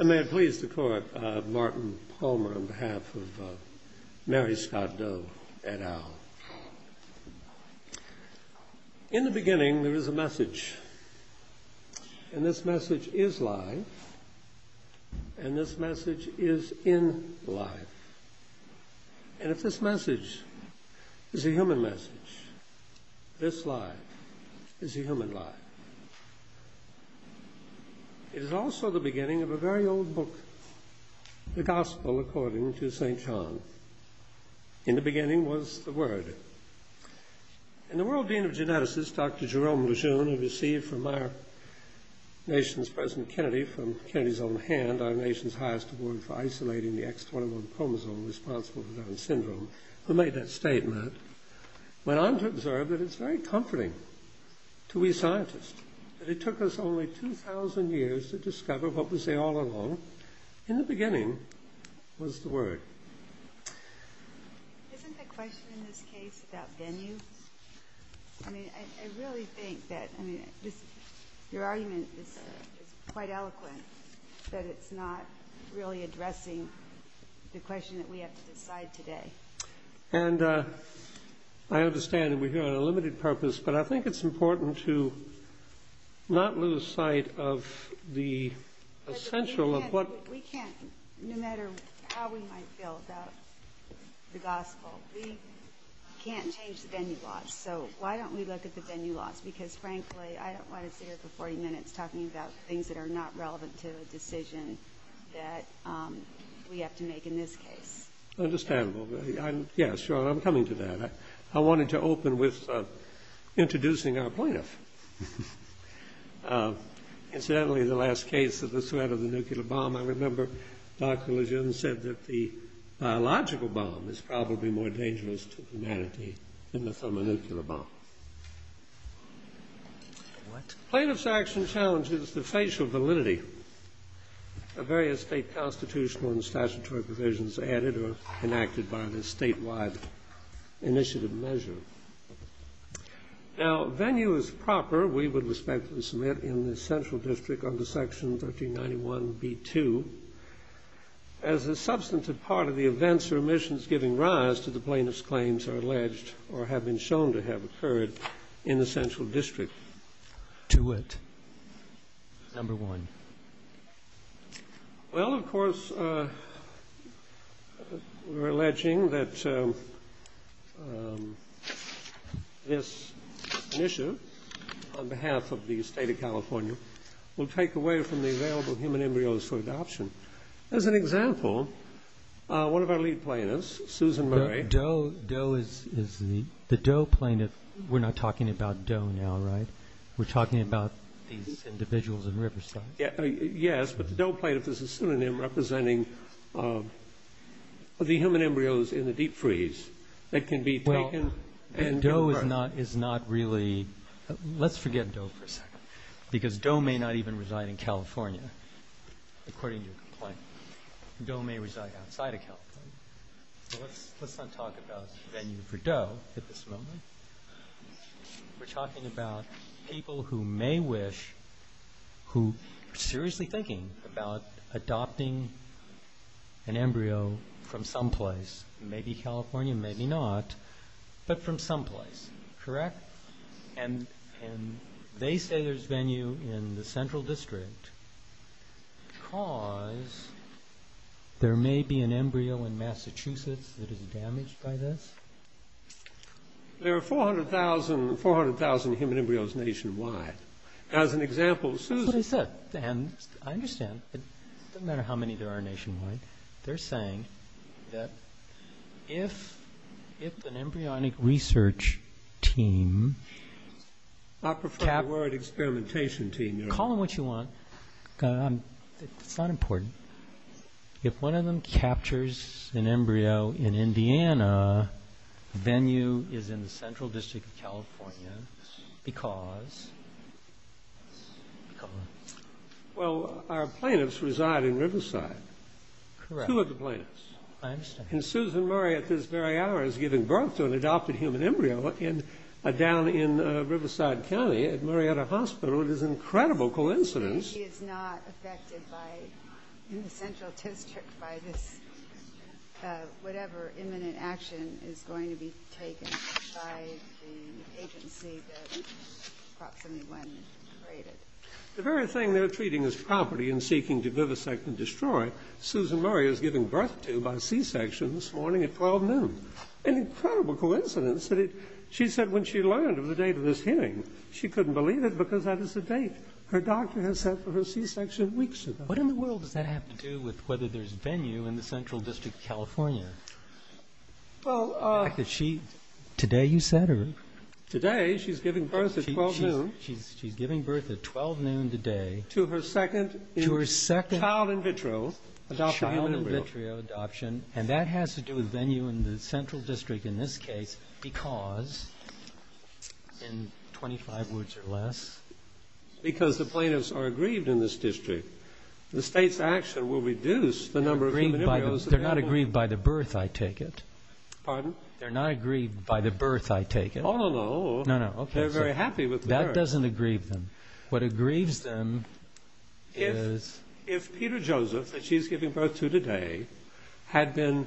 In the beginning there is a message, and this message is life, and this message is in life. And if this message is a human message, this life is a human life. It is also the beginning of a very old book, the Gospel according to St. John. In the beginning was the Word. And the World Dean of Geneticists, Dr. Jerome Lejeune, who received from our nation's President Kennedy, from Kennedy's own hand, our nation's highest award for isolating the X21 chromosome responsible for Down syndrome, who made that statement, went on to observe that it's very comforting to we scientists that it took us only 2,000 years to discover what we say all along. In the beginning was the Word. Isn't the question in this case about venue? I mean, I really think that, I mean, your argument is quite eloquent, but it's not really addressing the question that we have to decide today. And I understand that we're here on a limited purpose, but I think it's important to not lose sight of the essential of what... We can't, no matter how we might feel about the Gospel, we can't change the venue laws. So why don't we look at the venue laws? Because, frankly, I don't want to sit here for 40 minutes talking about things that are not relevant to a decision that we have to make in this case. Understandable. Yeah, sure, I'm coming to that. I wanted to open with introducing our plaintiff. Incidentally, the last case of the threat of the nuclear bomb, I remember Dr. Lejeune said that the biological bomb is probably more dangerous to humanity than the thermonuclear bomb. What? Plaintiff's action challenges the facial validity of various state constitutional and statutory provisions added or enacted by the statewide initiative measure. Now, venue is proper, we would respectfully submit, in the central district under section 1391b2. As a substantive part of the events or omissions giving rise to the plaintiff's claims are alleged or have been shown to have occurred in the central district. To what? Number one. Well, of course, we're alleging that this initiative, on behalf of the state of California, will take away from the available human embryos for adoption. As an example, one of our lead plaintiffs, Susan Murray. Doe is the Doe plaintiff. We're not talking about Doe now, right? We're talking about these individuals in Riverside. Yes, but the Doe plaintiff is a pseudonym representing the human embryos in the deep freeze that can be taken and given birth. Doe is not really, let's forget Doe for a second, because Doe may not even reside in California, according to your complaint. Doe may reside outside of California. Let's not talk about venue for Doe at this moment. We're talking about people who may wish, who are seriously thinking about adopting an embryo from someplace, maybe California, maybe not, but from someplace, correct? And they say there's venue in the central district because there may be an embryo in Massachusetts that is damaged by this? There are 400,000 human embryos nationwide. As an example, Susan... That's what I said, and I understand. It doesn't matter how many there are nationwide. They're saying that if an embryonic research team... I prefer the word experimentation team. Call them what you want. It's not important. If one of them captures an embryo in Indiana, venue is in the central district of California because... Well, our plaintiffs reside in Riverside. Correct. Two of the plaintiffs. I understand. And Susan Murray, at this very hour, is giving birth to an adopted human embryo down in Riverside County at Murrieta Hospital. It is an incredible coincidence. He is not affected by, in the central district, by this whatever imminent action is going to be taken by the agency that Prop 71 created. The very thing they're treating as property and seeking to vivisect and destroy, Susan Murray is giving birth to by C-section this morning at 12 noon. An incredible coincidence. She said when she learned of the date of this hearing, she couldn't believe it because that is the date. Her doctor has set for her C-section weeks ago. What in the world does that have to do with whether there's venue in the central district of California? Well... Today you said her. Today she's giving birth at 12 noon. She's giving birth at 12 noon today. To her second child in vitro. Child in vitro adoption. And that has to do with venue in the central district in this case because, in 25 words or less... Because the plaintiffs are aggrieved in this district. The state's action will reduce the number of human embryos... They're not aggrieved by the birth, I take it. Pardon? They're not aggrieved by the birth, I take it. Oh, no, no. No, no. They're very happy with the birth. That doesn't aggrieve them. What aggrieves them is... If Peter Joseph, that she's giving birth to today, had been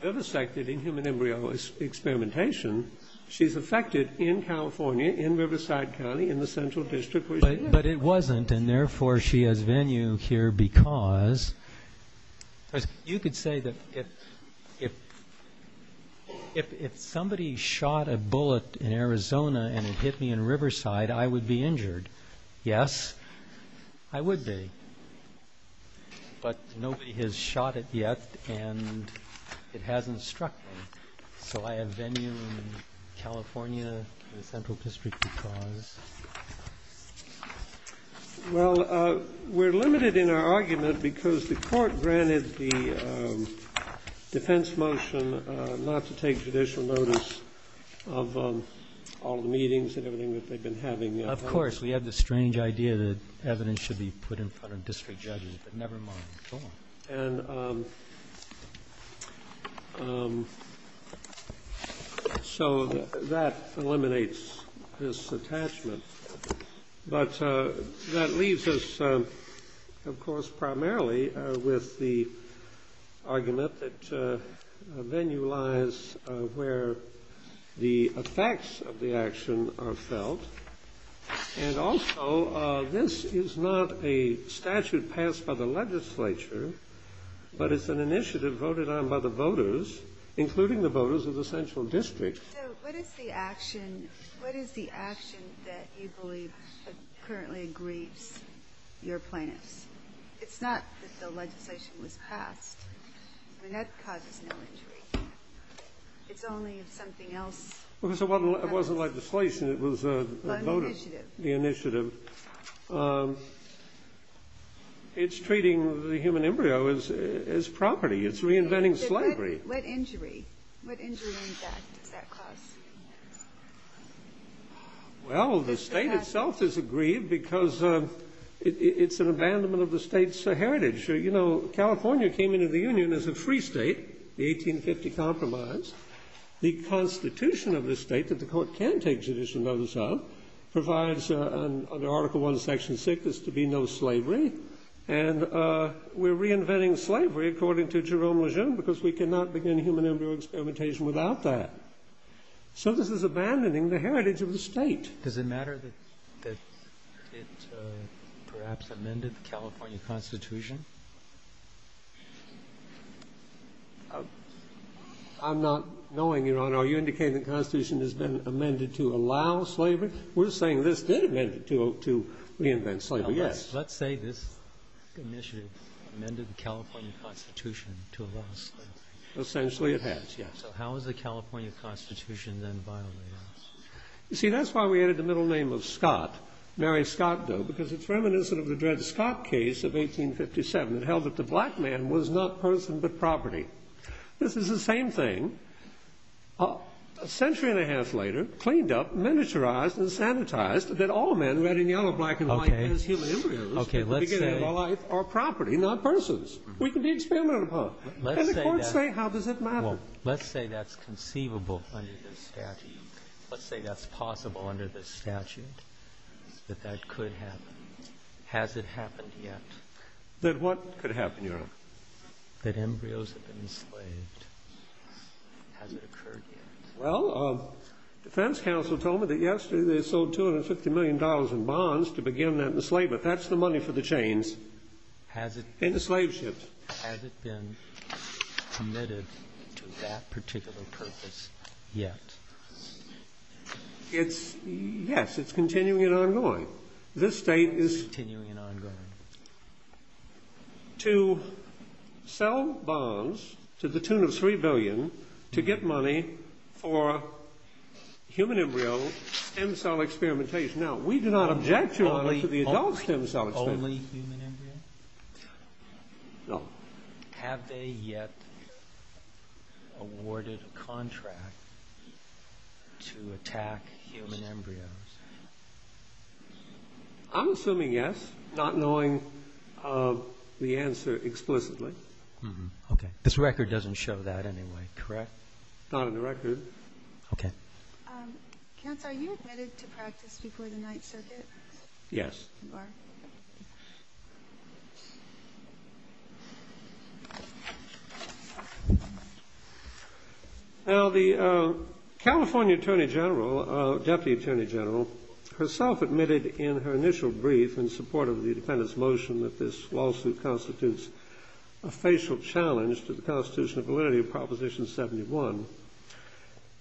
vivisected in human embryo experimentation, she's affected in California, in Riverside County, in the central district where she is. But it wasn't, and therefore she has venue here because... You could say that if somebody shot a bullet in Arizona and it hit me in Riverside, I would be injured. Yes, I would be. But nobody has shot it yet, and it hasn't struck me. So I have venue in California in the central district because... Well, we're limited in our argument because the court granted the defense motion not to take judicial notice of all the meetings and everything that they've been having. Of course, we have this strange idea that evidence should be put in front of district judges, but never mind at all. And so that eliminates this attachment. But that leaves us, of course, primarily with the argument that venue lies where the effects of the action are felt. And also, this is not a statute passed by the legislature, but it's an initiative voted on by the voters, including the voters of the central district. So what is the action that you believe currently aggrieves your plaintiffs? It's not that the legislation was passed. I mean, that causes no injury. It's only if something else... Well, it wasn't legislation. It was a vote of the initiative. It's treating the human embryo as property. It's reinventing slavery. What injury does that cause? Well, the state itself is aggrieved because it's an abandonment of the state's heritage. You know, California came into the Union as a free state, the 1850 Compromise. The Constitution of the state, that the Court can take judicial notice of, provides under Article I, Section 6, is to be no slavery. And we're reinventing slavery, according to Jerome Lejeune, because we cannot begin human embryo experimentation without that. So this is abandoning the heritage of the state. Does it matter that it perhaps amended the California Constitution? I'm not knowing, Your Honor. Are you indicating the Constitution has been amended to allow slavery? We're saying this did amend it to reinvent slavery, yes. Let's say this initiative amended the California Constitution to allow slavery. Essentially, it has, yes. So how has the California Constitution then violated it? You see, that's why we added the middle name of Scott, Mary Scott, though, because it's reminiscent of the Dred Scott case of 1857 that held that the black man was not person but property. This is the same thing, a century and a half later, cleaned up, miniaturized, and sanitized, that all men, red and yellow, black and white, as human embryos at the beginning of their life are property, not persons. We can be experimented upon. And the courts say, how does it matter? Well, let's say that's conceivable under the statute. But that could happen. Has it happened yet? That what could happen, Your Honor? That embryos have been enslaved. Has it occurred yet? Well, defense counsel told me that yesterday they sold $250 million in bonds to begin that enslavement. That's the money for the chains in the slave ships. Has it been committed to that particular purpose yet? It's, yes, it's continuing and ongoing. This state is... Continuing and ongoing. ...to sell bonds to the tune of $3 billion to get money for human embryo stem cell experimentation. Now, we do not object to the adult stem cell experiment. Only human embryo? No. Have they yet awarded a contract to attack human embryos? I'm assuming yes, not knowing the answer explicitly. Okay. This record doesn't show that anyway, correct? Not in the record. Okay. Counsel, are you admitted to practice before the Ninth Circuit? Yes. You are. Now, the California Attorney General, Deputy Attorney General, herself admitted in her initial brief in support of the defendant's motion that this lawsuit constitutes a facial challenge to the constitutional validity of Proposition 71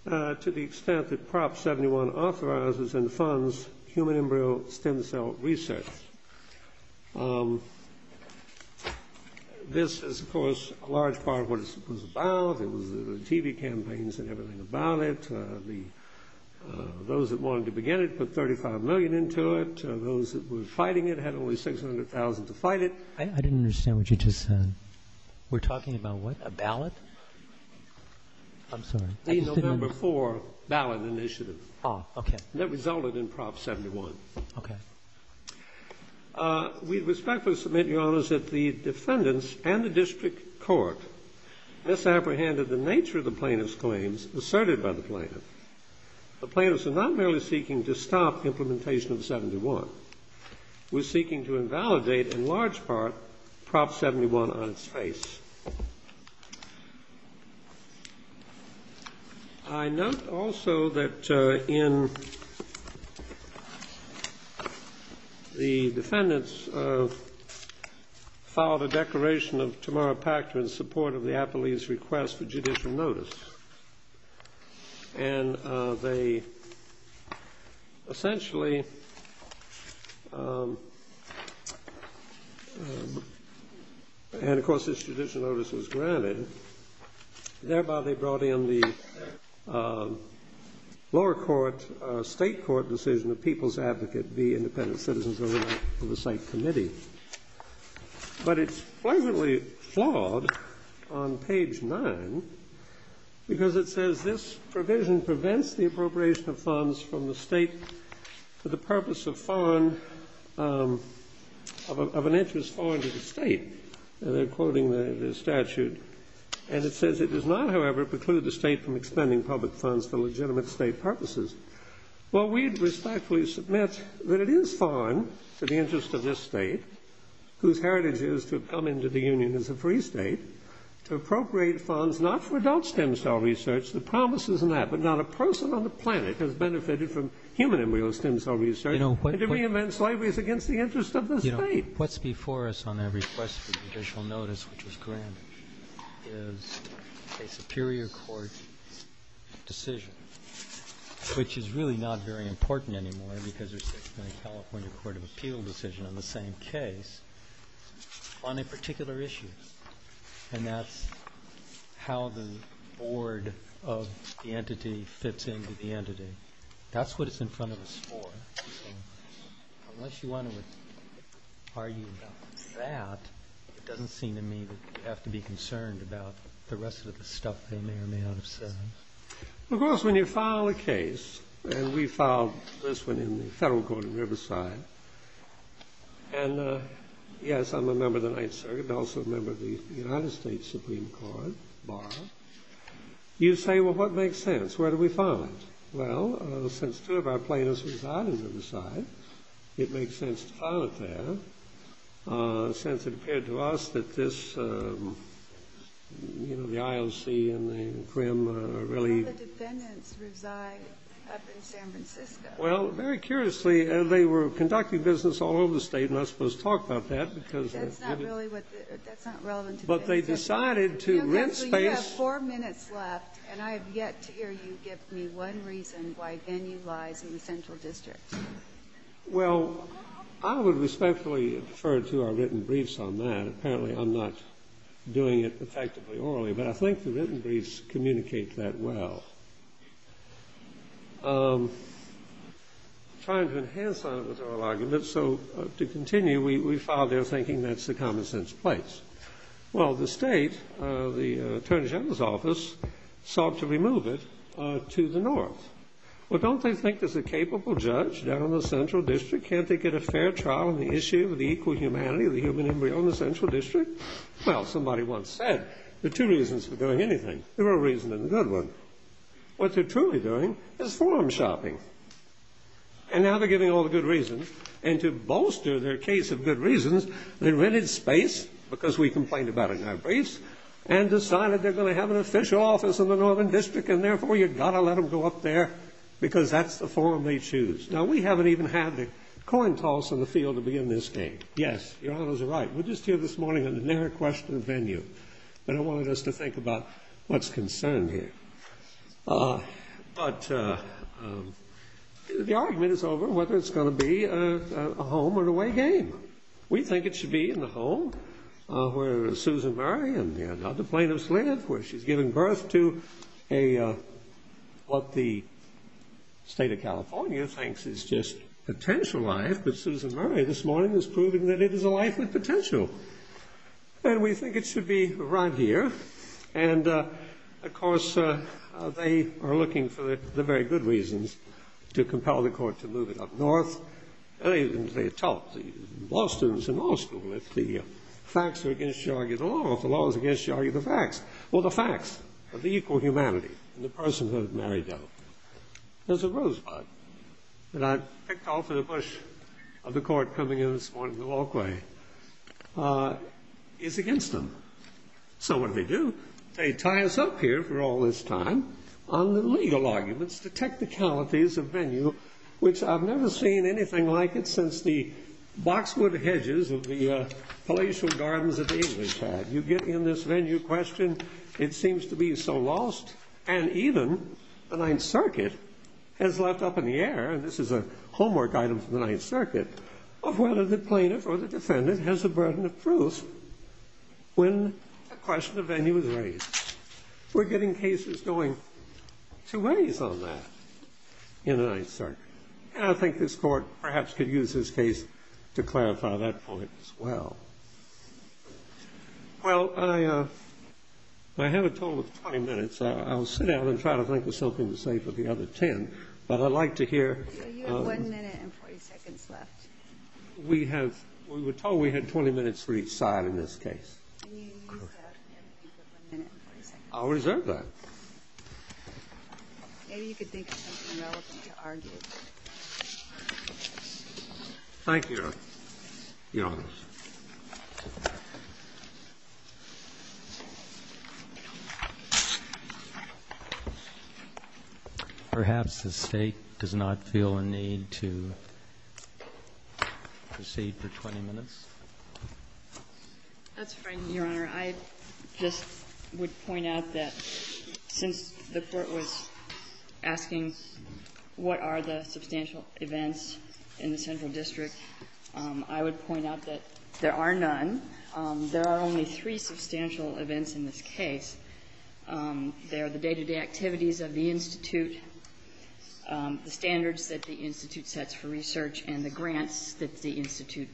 to the extent that Prop 71 authorizes and funds human embryo stem cell research. This is, of course, a large part of what it was about. It was the TV campaigns and everything about it. Those that wanted to begin it put $35 million into it. Those that were fighting it had only $600,000 to fight it. I didn't understand what you just said. We're talking about what, a ballot? I'm sorry. The November 4 ballot initiative. Oh, okay. That resulted in Prop 71. Okay. We respectfully submit, Your Honors, that the defendants and the district court misapprehended the nature of the plaintiff's claims asserted by the plaintiff. The plaintiffs are not merely seeking to stop implementation of 71. We're seeking to invalidate, in large part, Prop 71 on its face. I note, also, that in the defendants filed a declaration of tomorrow pactor in support of the appellee's request for judicial notice. And they essentially, and, of course, this judicial notice was granted. Thereby, they brought in the lower court, state court decision of people's advocate, the independent citizens oversight committee. But it's pleasantly flawed on page 9 because it says, this provision prevents the appropriation of funds from the state for the purpose of foreign, of an interest foreign to the state. They're quoting the statute. And it says, it does not, however, preclude the state from expending public funds for legitimate state purposes. Well, we'd respectfully submit that it is foreign to the interest of this state, whose heritage is to come into the union as a free state, to appropriate funds not for adult stem cell research. The promise isn't that. But not a person on the planet has benefited from human embryo stem cell research and to reinvent slavery is against the interest of the state. What's before us on that request for judicial notice, which was granted, is a superior court decision, which is really not very important anymore because there's a California Court of Appeal decision on the same case on a particular issue. And that's how the board of the entity fits into the entity. That's what it's in front of us for. Unless you want to argue about that, it doesn't seem to me that you have to be concerned about the rest of the stuff they may or may not have said. Well, of course, when you file a case, and we filed this one in the federal court in Riverside, and, yes, I'm a member of the Ninth Circuit and also a member of the United States Supreme Court Bar, you say, well, what makes sense? Where do we file it? Well, since two of our plaintiffs reside in Riverside, it makes sense to file it there since it appeared to us that this, you know, the IOC and the CRIM really All the defendants reside up in San Francisco. Well, very curiously, they were conducting business all over the State, and I'm not supposed to talk about that because That's not really what the, that's not relevant to business. But they decided to rent space You have four minutes left, and I have yet to hear you give me one reason why venue lies in the Central District. Well, I would respectfully refer to our written briefs on that. Apparently, I'm not doing it effectively orally, but I think the written briefs communicate that well. Trying to enhance our oral argument, so to continue, we filed there thinking that's the common-sense place. Well, the State, the Attorney General's Office, sought to remove it to the North. Well, don't they think there's a capable judge down in the Central District? Can't they get a fair trial on the issue of the equal humanity of the human embryo in the Central District? Well, somebody once said there are two reasons for doing anything. There are a reason and a good one. What they're truly doing is forum shopping. And now they're giving all the good reasons, and to bolster their case of good reasons, they rented space, because we complained about it in our briefs, and decided they're going to have an official office in the Northern District, and therefore you've got to let them go up there, because that's the forum they choose. Now, we haven't even had the coin toss in the field to begin this game. Yes, Your Honors are right. We're just here this morning at an air-questioned venue. They don't want us to think about what's concerned here. But the argument is over whether it's going to be a home-and-away game. We think it should be in the home where Susan Murray and the other plaintiffs live, where she's giving birth to what the state of California thinks is just potential life, but Susan Murray this morning is proving that it is a life with potential. And we think it should be right here. And, of course, they are looking for the very good reasons to compel the court to move it up north. They tell law students in law school that if the facts are against you, argue the law. Well, the facts of the equal humanity and the personhood of Mary Doe. There's a rosebud that I picked off in a bush of the court coming in this morning at the Law Quay. It's against them. So what do they do? They tie us up here for all this time on the legal arguments to technicalities of venue, which I've never seen anything like it since the boxwood hedges of the palatial gardens of the English had. You get in this venue question. It seems to be so lost. And even the Ninth Circuit has left up in the air, and this is a homework item from the Ninth Circuit, of whether the plaintiff or the defendant has a burden of proof when a question of venue is raised. We're getting cases going two ways on that in the Ninth Circuit. And I think this Court perhaps could use this case to clarify that point as well. Well, I have a total of 20 minutes. I'll sit down and try to think of something to say for the other 10, but I'd like to hear. So you have 1 minute and 40 seconds left. We have we were told we had 20 minutes for each side in this case. Can you use that and give them 1 minute and 40 seconds? I'll reserve that. Maybe you could think of something relevant to argue. Thank you, Your Honor. Perhaps the State does not feel a need to proceed for 20 minutes. That's fine, Your Honor. I just would point out that since the Court was asking what are the substantial events in the Central District, I would point out that there are none. There are only three substantial events in this case. They are the day-to-day activities of the Institute, the standards that the Institute sets for research, and the grants that the Institute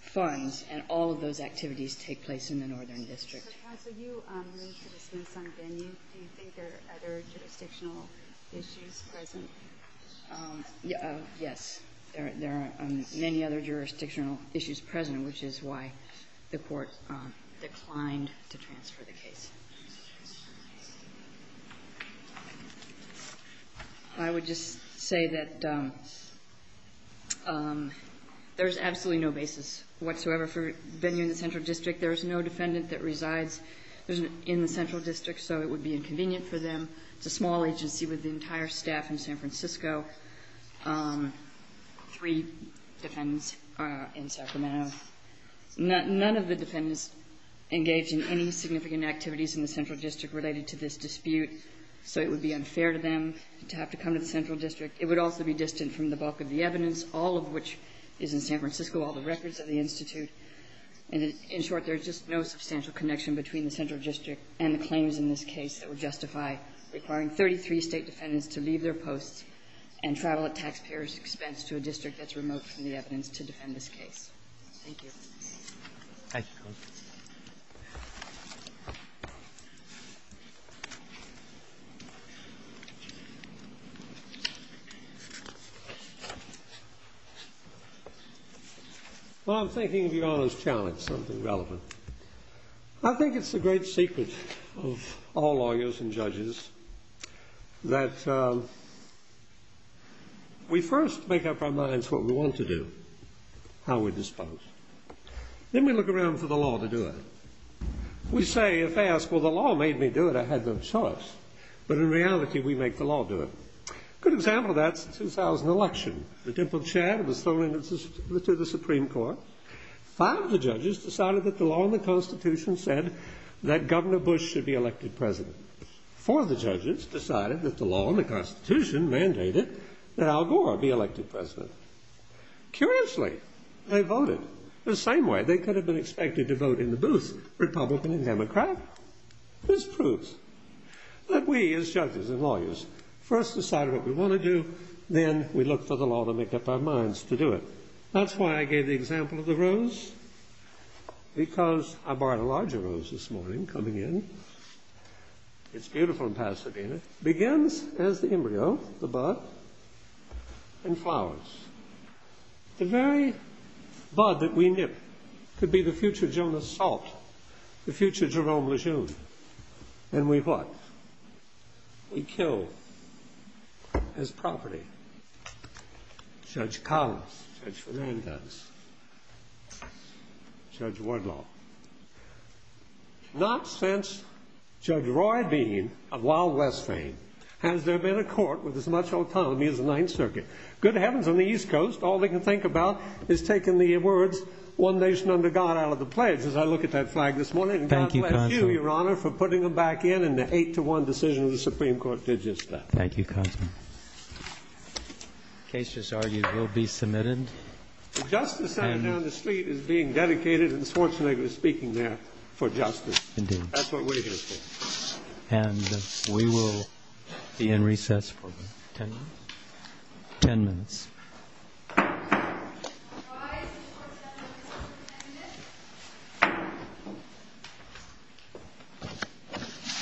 funds. And all of those activities take place in the Northern District. So you moved to the Smithsonian. Do you think there are other jurisdictional issues present? Yes. There are many other jurisdictional issues present, which is why the Court declined to transfer the case. I would just say that there is absolutely no basis whatsoever for venue in the Central District. There is no defendant that resides in the Central District, so it would be inconvenient for them. It's a small agency with the entire staff in San Francisco, three defendants in Sacramento. None of the defendants engaged in any significant activities in the Central District related to this dispute, so it would be unfair to them to have to come to the Central District. It would also be distant from the bulk of the evidence, all of which is in San Francisco, all the records of the Institute. And in short, there's just no substantial connection between the Central District and the claims in this case that would justify requiring 33 State defendants to leave their posts and travel at taxpayer's expense to a district that's remote from the Central District. Thank you. Thank you, Your Honor. Well, I'm thinking of Your Honor's challenge, something relevant. I think it's the great secret of all lawyers and judges that we first make up our Then we look around for the law to do it. We say, if asked, well, the law made me do it, I had no choice. But in reality, we make the law do it. A good example of that is the 2000 election. The dimpled chad was thrown into the Supreme Court. Five of the judges decided that the law and the Constitution said that Governor Bush should be elected president. Four of the judges decided that the law and the Constitution mandated that Al Gore be elected president. Curiously, they voted the same way they could have been expected to vote in the booth, Republican and Democrat. This proves that we, as judges and lawyers, first decide what we want to do, then we look for the law to make up our minds to do it. That's why I gave the example of the rose, because I bought a larger rose this morning coming in. It's beautiful in Pasadena. It begins as the embryo, the bud, and flowers. The very bud that we nip could be the future Jonas Salt, the future Jerome Lejeune. And we what? We kill his property. Judge Collins, Judge Fernandez, Judge Wardlaw. Not since Judge Roy Dean of Wild West fame has there been a court with as much autonomy as the Ninth Circuit. Good heavens, on the East Coast, all they can think about is taking the words, one nation under God, out of the pledge, as I look at that flag this morning. And God bless you, Your Honor, for putting them back in, and the eight-to-one decision of the Supreme Court did just that. Thank you, Congressman. The case, as argued, will be submitted. The justice center down the street is being dedicated, and Schwarzenegger is speaking there for justice. That's what we're here for. And we will be in recess for ten minutes.